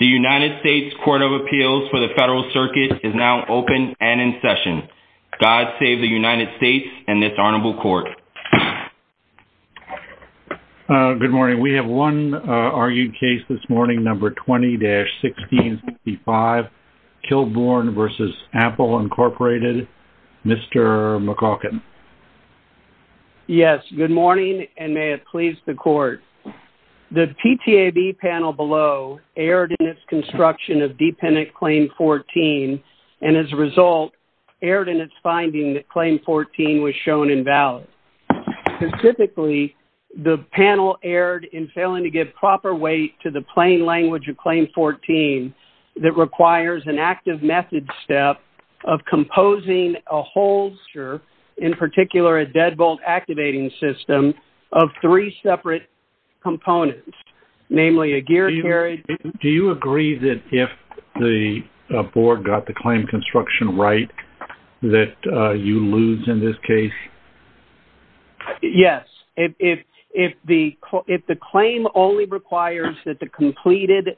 The United States Court of Appeals for the Federal Circuit is now open and in session. God save the United States and this honorable court. Good morning, we have one argued case this morning, number 20-1665, Kilbourn v. Apple Incorporated, Mr. McCaulkin. Yes good morning and may it please the court. The PTAB panel below erred in its construction of dependent claim 14 and as a result erred in its finding that claim 14 was shown invalid. Specifically, the panel erred in failing to give proper weight to the plain language of composing a holster, in particular a deadbolt activating system, of three separate components, namely a gear carrier. Do you agree that if the board got the claim construction right that you lose in this case? Yes, if the claim only requires that the completed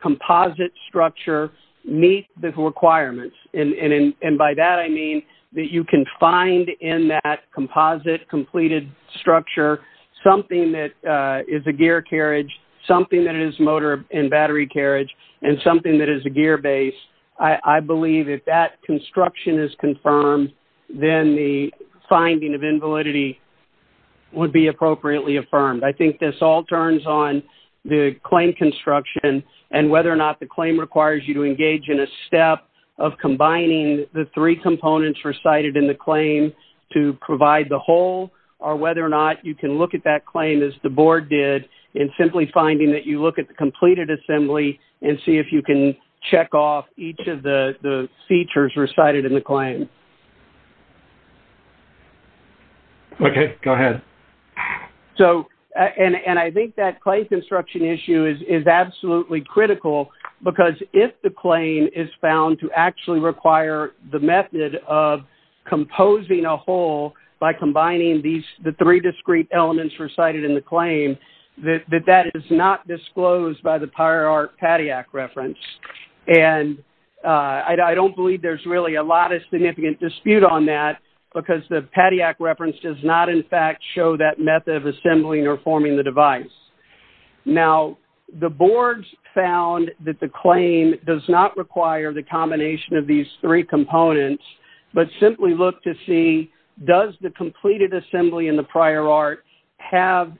composite structure meet the requirements and by that I mean that you can find in that composite completed structure something that is a gear carriage, something that is motor and battery carriage, and something that is a gear base, I believe if that construction is confirmed then the finding of invalidity would be appropriately affirmed. I think this all turns on the claim construction and whether or not the claim requires you engage in a step of combining the three components recited in the claim to provide the whole or whether or not you can look at that claim as the board did in simply finding that you look at the completed assembly and see if you can check off each of the features recited in the claim. Okay, go ahead. So, and I think that claim construction issue is absolutely critical because if the claim is found to actually require the method of composing a whole by combining the three discrete elements recited in the claim, that that is not disclosed by the Pyre Arc PADIAC reference. And I don't believe there's really a lot of significant dispute on that because the PADIAC reference does not in fact show that method of assembling or forming the device. Now the boards found that the claim does not require the combination of these three components, but simply look to see does the completed assembly in the Pyre Arc have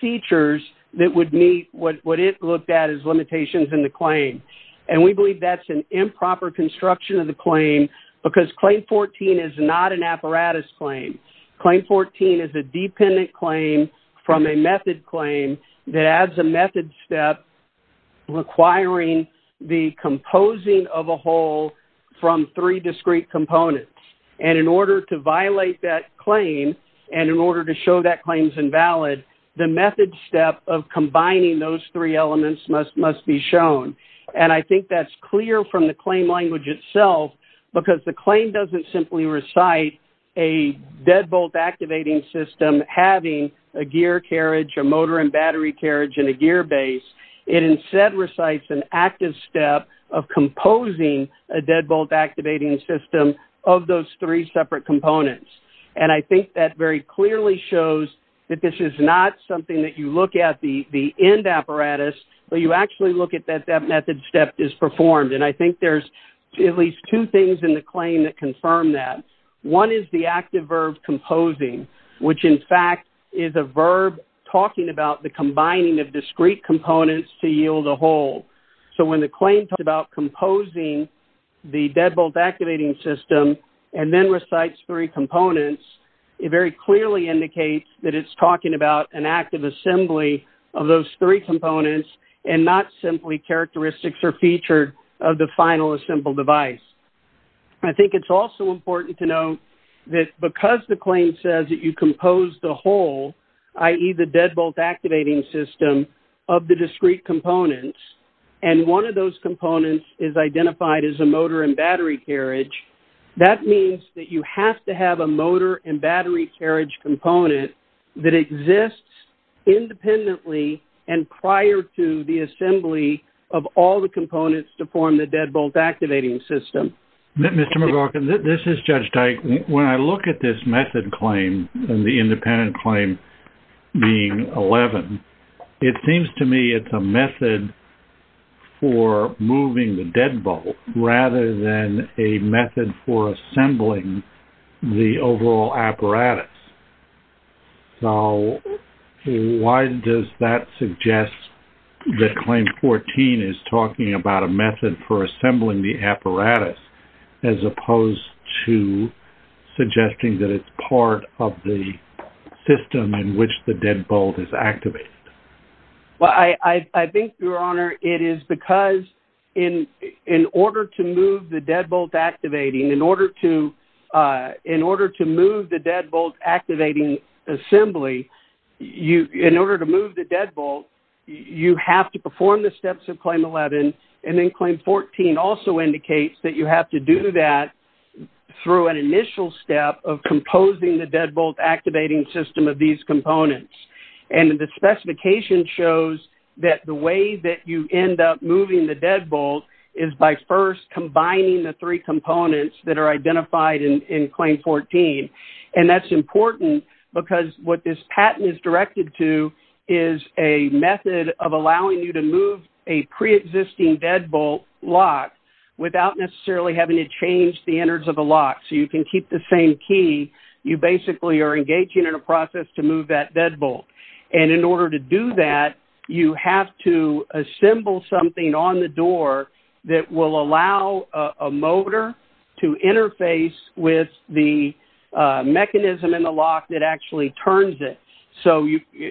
features that would meet what it looked at as limitations in the claim. And we believe that's an improper construction of the claim because Claim 14 is not an apparatus claim. Claim 14 is a dependent claim from a method claim that adds a method step requiring the composing of a whole from three discrete components. And in order to violate that claim and in order to show that claim's invalid, the method step of combining those three elements must be shown. And I think that's clear from the claim language itself because the claim doesn't simply recite a deadbolt activating system having a gear carriage, a motor and battery carriage, and a gear base. It instead recites an active step of composing a deadbolt activating system of those three separate components. And I think that very clearly shows that this is not something that you look at the end apparatus, but you actually look at that that method step is performed. And I think there's at least two things in the claim that confirm that. One is the active verb composing, which in fact is a verb talking about the combining of discrete components to yield a whole. So when the claim talks about composing the deadbolt activating system and then recites three components, it very clearly indicates that it's talking about an active assembly of those three components and not simply characteristics or feature of the final assembled device. I think it's also important to note that because the claim says that you compose the whole, i.e. the deadbolt activating system of the discrete components, and one of those components is identified as a motor and battery carriage, that means that you have to have a motor and battery carriage component that exists independently and prior to the Mr. McLaughlin, this is Judge Dyke. When I look at this method claim and the independent claim being 11, it seems to me it's a method for moving the deadbolt rather than a method for assembling the overall apparatus. So why does that suggest that claim 14 is talking about a method for assembling the deadbolt as opposed to suggesting that it's part of the system in which the deadbolt is activated? Well, I think, Your Honor, it is because in order to move the deadbolt activating, in order to move the deadbolt activating assembly, in order to move the deadbolt, you have to perform the steps of claim 11. And then claim 14 also indicates that you have to do that through an initial step of composing the deadbolt activating system of these components. And the specification shows that the way that you end up moving the deadbolt is by first combining the three components that are identified in claim 14. And that's important because what this patent is directed to is a method of allowing you to move a pre-existing deadbolt lock without necessarily having to change the innards of a lock. So you can keep the same key. You basically are engaging in a process to move that deadbolt. And in order to do that, you have to assemble something on the door that will allow a mechanism in the lock that actually turns it. So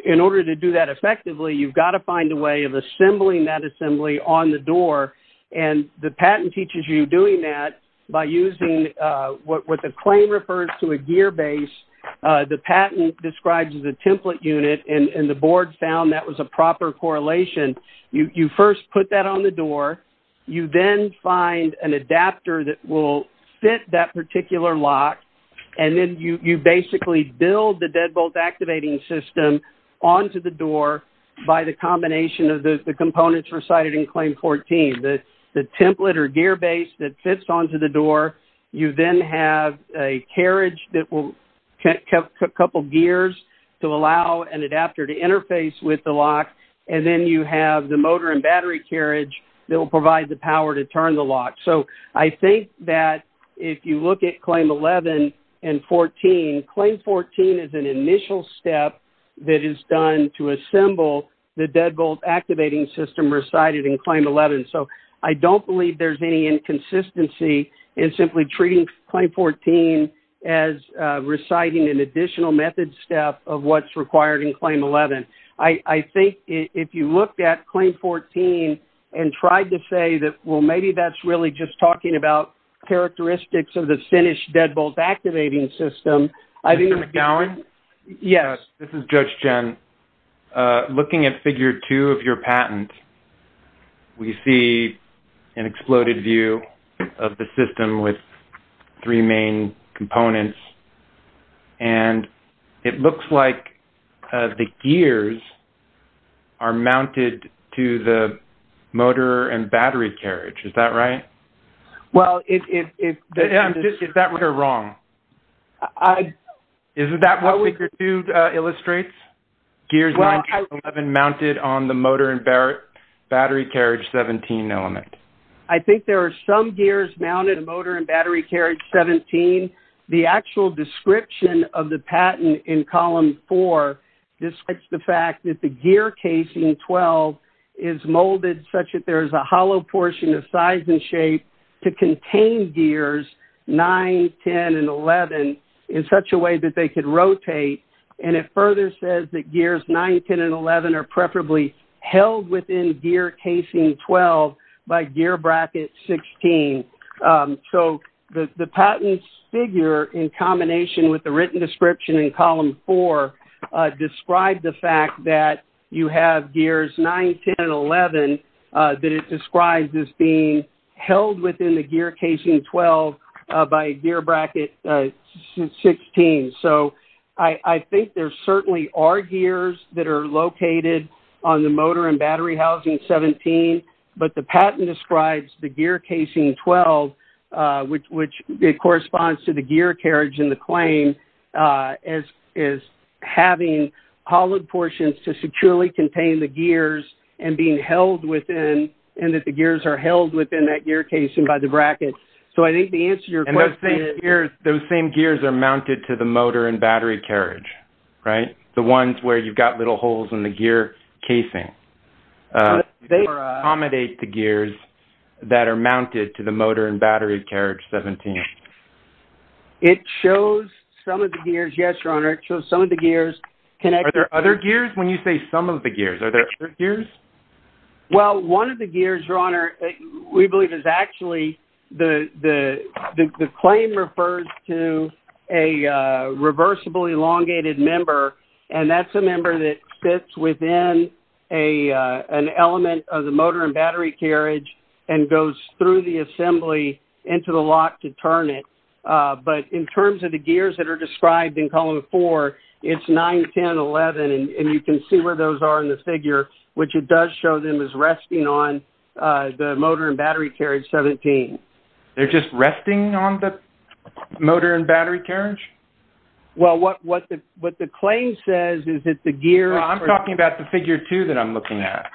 in order to do that effectively, you've got to find a way of assembling that assembly on the door. And the patent teaches you doing that by using what the claim refers to a gear base. The patent describes the template unit and the board found that was a proper correlation. You first put that on the door. You then find an adapter that will fit that particular lock. And then you basically build the deadbolt activating system onto the door by the combination of the components recited in claim 14. The template or gear base that fits onto the door. You then have a carriage that will have a couple of gears to allow an adapter to interface with the lock. And then you have the motor and battery carriage that will provide the power to turn the lock. So I think that if you look at claim 11 and 14, claim 14 is an initial step that is done to assemble the deadbolt activating system recited in claim 11. So I don't believe there's any inconsistency in simply treating claim 14 as reciting an additional method step of what's required in claim 11. I think if you looked at claim 14 and tried to say that, well, maybe that's really just talking about characteristics of the finished deadbolt activating system, I think... Mr. McGowan? Yes. This is Judge Jen. Looking at figure two of your patent, we see an exploded view of the system with three main components. And it looks like the gears are mounted to the motor and battery carriage. Is that right? Well, if... Is that right or wrong? Isn't that what figure two illustrates? Gears 19 and 11 mounted on the motor and battery carriage 17 element? I think there are some gears mounted on the motor and battery carriage 17. The actual description of the patent in column four, this is the fact that the gear casing 12 is molded such that there is a hollow portion of size and shape to contain gears 9, 10, and 11 in such a way that they could rotate. And it further says that gears 9, 10, and 11 are preferably held within gear casing 12 by gear bracket 16. So, the patent figure in combination with the written description in column four described the fact that you have gears 9, 10, and 11 that it describes as being held within the gear casing 12 by gear bracket 16. So, I think there certainly are gears that are located on the motor and battery housing 17, but the patent describes the gear casing 12, which corresponds to the gear carriage in the claim as having hollowed portions to securely contain the gears and being held within... And that the gears are held within that gear casing by the bracket. So, I think the answer to your question is... And those same gears are mounted to the motor and battery carriage, right? The ones where you've got little holes in the gear casing. They accommodate the gears that are mounted to the motor and battery carriage 17. It shows some of the gears. Yes, Your Honor. It shows some of the gears connected... Are there other gears? When you say some of the gears, are there other gears? Well, one of the gears, Your Honor, we believe is actually the claim refers to a element of the motor and battery carriage and goes through the assembly into the lock to turn it. But in terms of the gears that are described in Column 4, it's 9, 10, 11. And you can see where those are in the figure, which it does show them as resting on the motor and battery carriage 17. They're just resting on the motor and battery carriage? Well, what the claim says is that the gear... Well, I'm talking about the figure 2 that I'm looking at.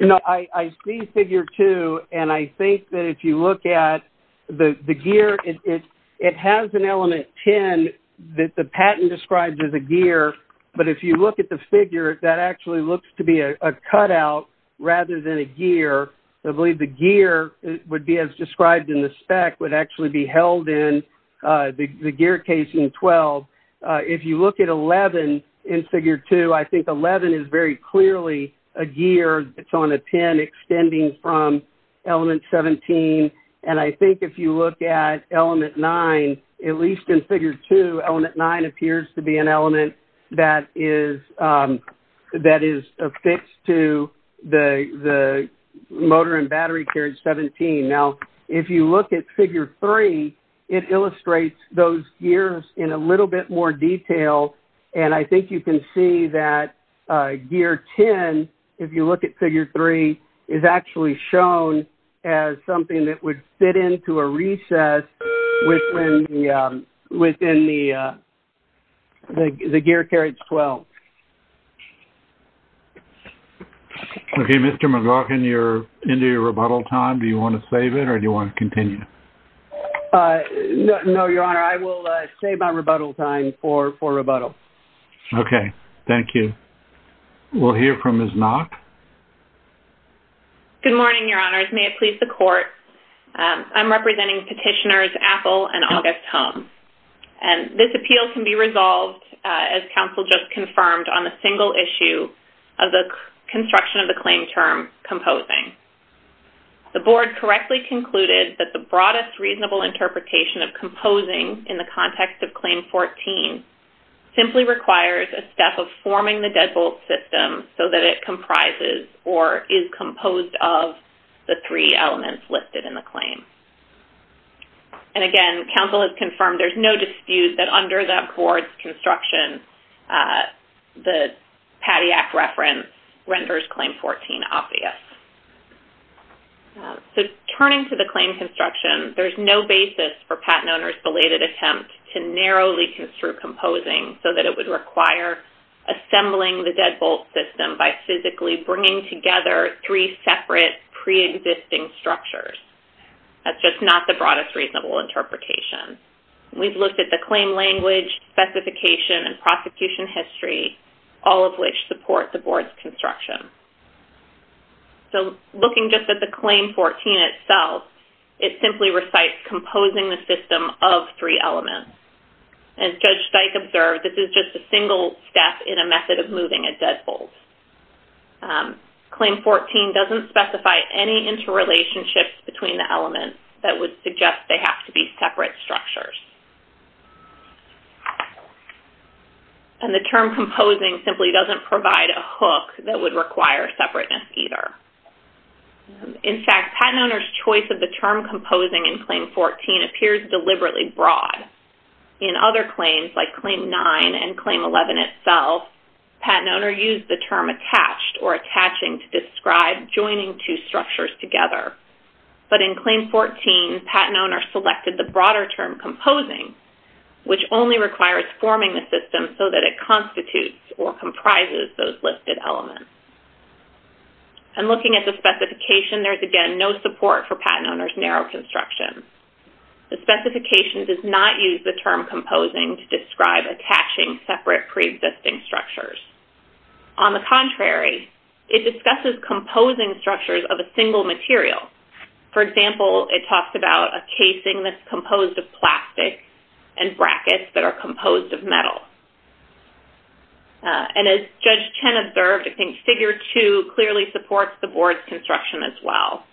No, I see figure 2. And I think that if you look at the gear, it has an element 10 that the patent describes as a gear. But if you look at the figure, that actually looks to be a cutout rather than a gear. I believe the gear would be as described in the spec, would actually be held in the gear casing 12. If you look at 11 in figure 2, I think 11 is very clearly a gear that's on a 10 extending from element 17. And I think if you look at element 9, at least in figure 2, element 9 appears to be an element that is that is affixed to the motor and battery carriage 17. Now, if you look at figure 3, it illustrates those gears in a little bit more detail. And I think you can see that gear 10, if you look at figure 3, is actually shown as something that would fit into a recess within the gear carriage 12. Okay, Mr. McGaughan, you're into your rebuttal time. Do you want to save it or do you want to continue? No, Your Honor, I will save my rebuttal time for rebuttal. Okay, thank you. We'll hear from Ms. Nock. Good morning, Your Honors. May it please the court. I'm representing petitioners Apple and August Hum. And this appeal can be resolved, as counsel just confirmed, on a single issue of the construction of the claim term composing. The board correctly concluded that the broadest reasonable interpretation of composing in the context of Claim 14 simply requires a step of forming the deadbolt system so that it comprises or is composed of the three elements listed in the claim. And again, counsel has confirmed there's no dispute that under that board's construction, the PADIAC reference renders Claim 14 obvious. So, turning to the claim construction, there's no basis for patent owners' belated attempt to narrowly construe composing so that it would require assembling the deadbolt system by physically bringing together three separate pre-existing structures. That's just not the broadest reasonable interpretation. We've looked at the claim language, specification, and prosecution history, all of which support the board's construction. So, looking just at the Claim 14 itself, it simply recites composing the system of three elements. As Judge Steik observed, this is just a single step in a method of moving a deadbolt. Claim 14 doesn't specify any interrelationships between the elements that would suggest they have to be separate structures. And the term composing simply doesn't provide a hook that would require separateness either. In fact, patent owners' choice of the term composing in Claim 14 appears deliberately broad. In other claims, like Claim 9 and Claim 11 itself, patent owner used the term attached or attaching to describe joining two structures together. But in Claim 14, patent owners selected the broader term composing, which only requires forming the system so that it constitutes or comprises those listed elements. And looking at the specification, there's again no support for patent owners' narrow construction. The specification does not use the term composing to describe attaching separate pre-existing structures. On the contrary, it discusses composing structures of a single material. For example, it talks about a casing that's composed of plastic and brackets that are composed of metal. And as Judge Chen observed, I think Figure 2 clearly supports the board's construction as well.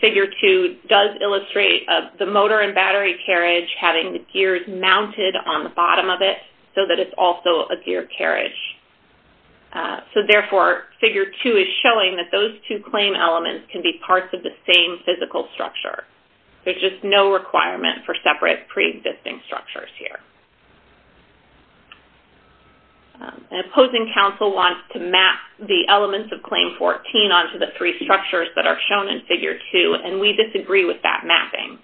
Figure 2 does illustrate the motor and battery carriage having the gears mounted on the bottom of it so that it's also a gear carriage. So therefore, Figure 2 is showing that those two claim elements can be parts of the same physical structure. There's just no requirement for separate pre-existing structures here. An opposing counsel wants to map the elements of Claim 14 onto the three structures that are shown in Figure 2, and we disagree with that mapping.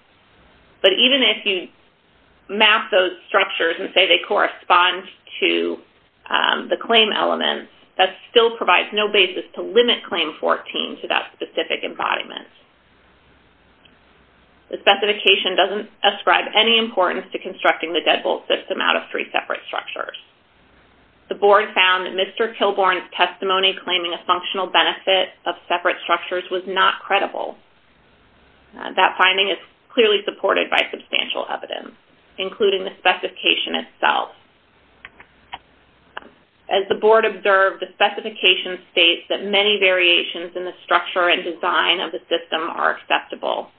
But even if you map those structures and say they correspond to the claim elements, that still provides no basis to limit Claim 14 to that specific embodiment. The specification doesn't ascribe any importance to constructing the deadbolt system out of three separate structures. The board found that Mr. Kilbourn's testimony claiming a functional benefit of separate structures was not credible. That finding is clearly supported by substantial evidence, including the specification itself. As the board observed, the specification states that many variations in the structure and design of the system are acceptable.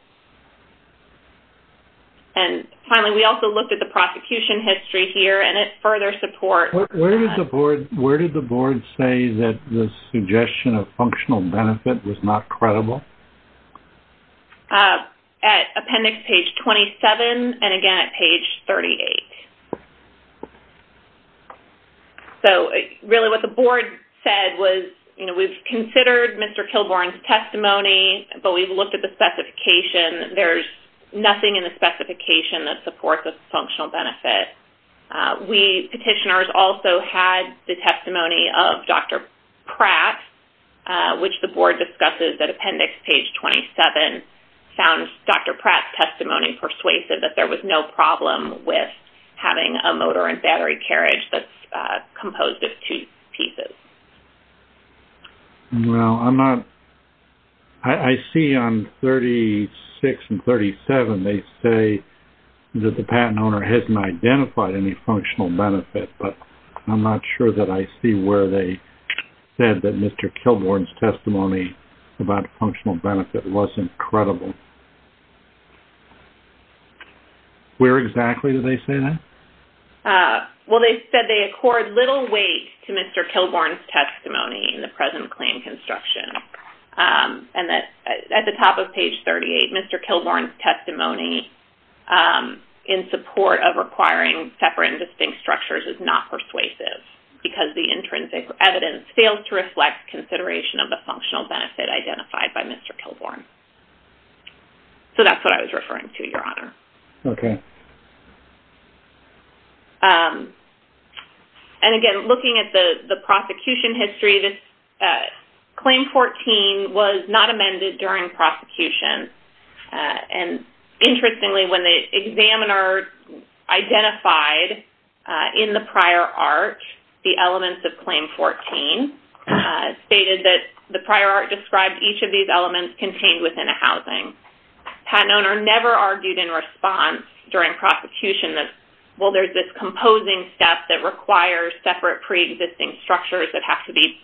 And finally, we also looked at the prosecution history here, and it further supports... Where did the board say that the suggestion of functional benefit was not credible? At appendix page 27, and again at page 38. So, really what the board said was, you know, we've considered Mr. Kilbourn's testimony, but we've looked at the specification. There's nothing in the specification that supports a functional benefit. We petitioners also had the testimony of Dr. Pratt, which the board discusses at appendix page 27. And found Dr. Pratt's testimony persuasive that there was no problem with having a motor and battery carriage that's composed of two pieces. Well, I'm not... I see on 36 and 37, they say that the patent owner hasn't identified any functional benefit. But I'm not sure that I see where they said that Mr. Kilbourn's testimony about functional benefit wasn't credible. Where exactly did they say that? Well, they said they accord little weight to Mr. Kilbourn's testimony in the present claim construction. And at the top of page 38, Mr. Kilbourn's testimony in support of requiring separate and distinct structures is not persuasive. Because the intrinsic evidence fails to reflect consideration of the functional benefit identified by Mr. Kilbourn. So, that's what I was referring to, Your Honor. Okay. And again, looking at the prosecution history, this Claim 14 was not amended during prosecution. And interestingly, when the examiner identified in the prior art the elements of Claim 14, stated that the prior art described each of these elements contained within a housing. The patent owner never argued in response during prosecution that, well, there's this composing step that requires separate pre-existing structures that have to be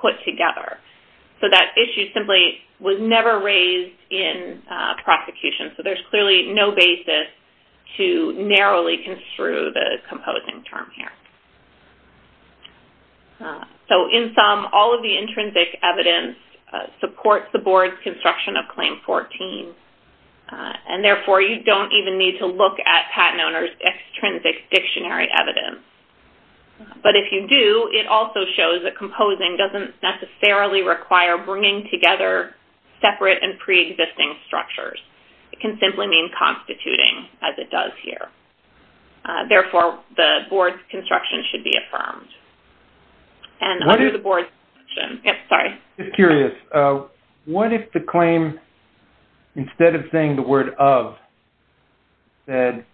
put together. So, that issue simply was never raised in prosecution. So, there's clearly no basis to narrowly construe the composing term here. So, in sum, all of the intrinsic evidence supports the board's construction of Claim 14. And therefore, you don't even need to look at patent owner's extrinsic dictionary evidence. But if you do, it also shows that composing doesn't necessarily require bringing together separate and pre-existing structures. It can simply mean constituting, as it does here. Therefore, the board's construction should be affirmed. And under the board's- Just curious. What if the claim, instead of saying the word of, said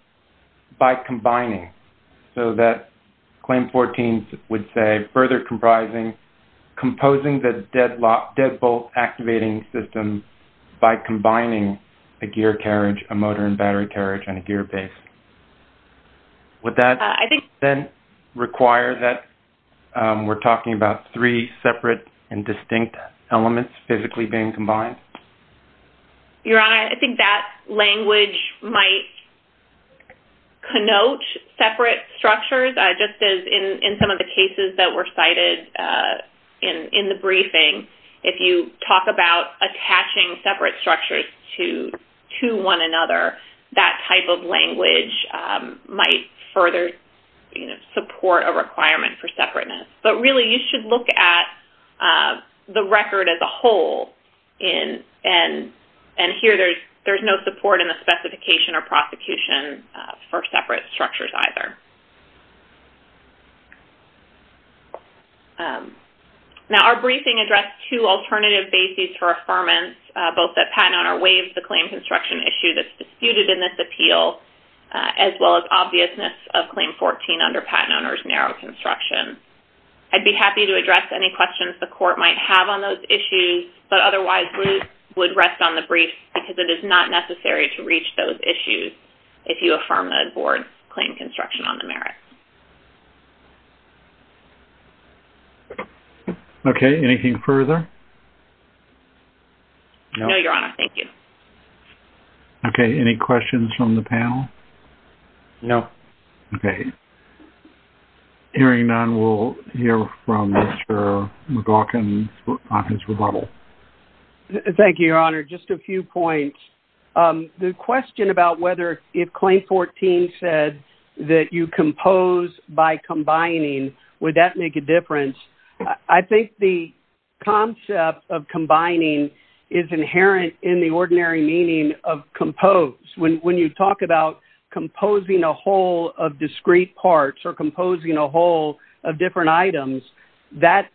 by combining? So, that Claim 14 would say, further composing the deadbolt activating system by combining a gear carriage, a motor and battery carriage and a gear base. Would that then require that we're talking about three separate and distinct elements physically being combined? Your Honor, I think that language might connote separate structures. Just as in some of the cases that were cited in the briefing, if you talk about attaching separate structures to one another, that type of language might further support a requirement for separateness. But really, you should look at the record as a whole. And here, there's no support in the specification or prosecution for separate structures either. Now, our briefing addressed two alternative bases for affirmance, both that Patent Owner waived the claim construction issue that's disputed in this appeal, as well as obviousness of Claim 14 under Patent Owner's narrow construction. I'd be happy to address any questions the Court might have on those issues, but otherwise, we would rest on the brief because it is not necessary to reach those issues if you affirm the board's claim construction on the merits. Okay. Anything further? No, Your Honor. Thank you. Okay. Any questions from the panel? No. Okay. Hearing none, we'll hear from Mr. McGaughan for his rebuttal. Thank you, Your Honor. Just a few points. The question about whether if Claim 14 said that you compose by combining, would that make a difference? I think the concept of combining is inherent in the ordinary meaning of compose. When you talk about composing a whole of discrete parts or composing a whole of different items, that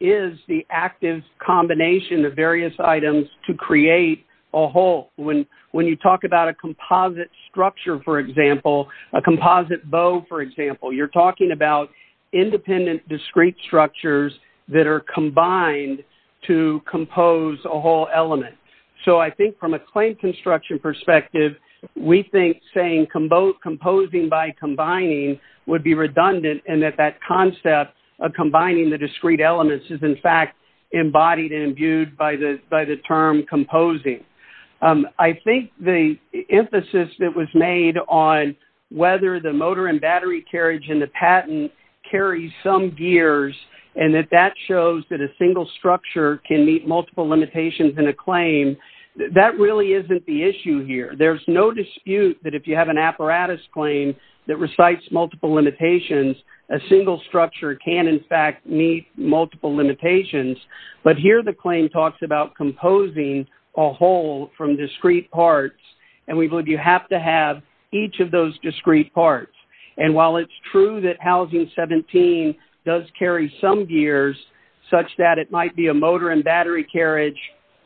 is the active combination of various items to create a whole. When you talk about a composite structure, for example, a composite bow, for example, you're talking about independent discrete structures that are combined to compose a whole element. So I think from a claim construction perspective, we think saying composing by combining would be redundant and that that concept of combining the discrete elements is, in fact, embodied and imbued by the term composing. I think the emphasis that was made on whether the motor and battery carriage and the patent carry some gears and that that shows that a single structure can meet multiple limitations in a claim, that really isn't the issue here. There's no dispute that if you have an apparatus claim that recites multiple limitations, a single structure can, in fact, meet multiple limitations. But here the claim talks about composing a whole from discrete parts, and we believe you have to have each of those discrete parts. And while it's true that Housing 17 does carry some gears, such that it might be a motor and battery carriage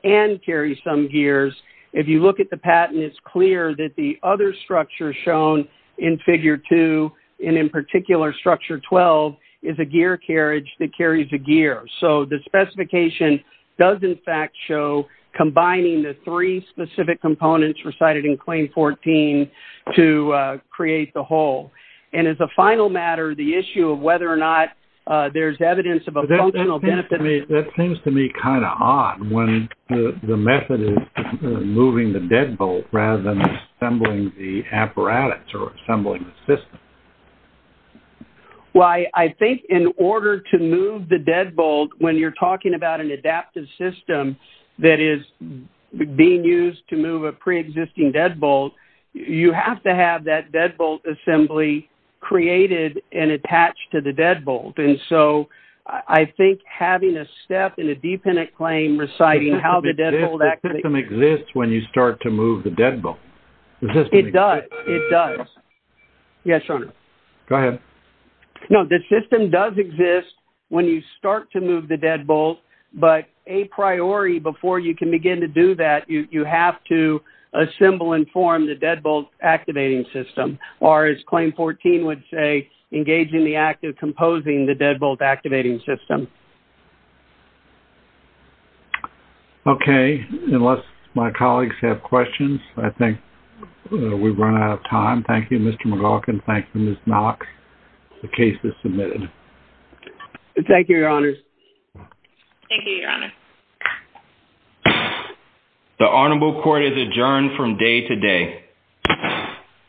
and carry some gears, if you look at the patent, it's clear that the other structure shown in Figure 2, and in particular Structure 12, is a gear carriage that carries a gear. And that specification does, in fact, show combining the three specific components recited in Claim 14 to create the whole. And as a final matter, the issue of whether or not there's evidence of a functional benefit... That seems to me kind of odd when the method is moving the deadbolt rather than assembling the apparatus or assembling the system. Well, I think in order to move the deadbolt, when you're talking about an adaptive system that is being used to move a pre-existing deadbolt, you have to have that deadbolt assembly created and attached to the deadbolt. And so I think having a step in a dependent claim reciting how the deadbolt actually... The system exists when you start to move the deadbolt. It does. It does. Yes, Your Honor. Go ahead. No, the system does exist when you start to move the deadbolt, but a priori, before you can begin to do that, you have to assemble and form the deadbolt activating system, or as Claim 14 would say, engaging the act of composing the deadbolt activating system. Okay. Unless my colleagues have questions, I think we've run out of time. Thank you, Mr. McGaughan. Thank you, Ms. Knox. The case is submitted. Thank you, Your Honors. Thank you, Your Honor. The honorable court is adjourned from day to day.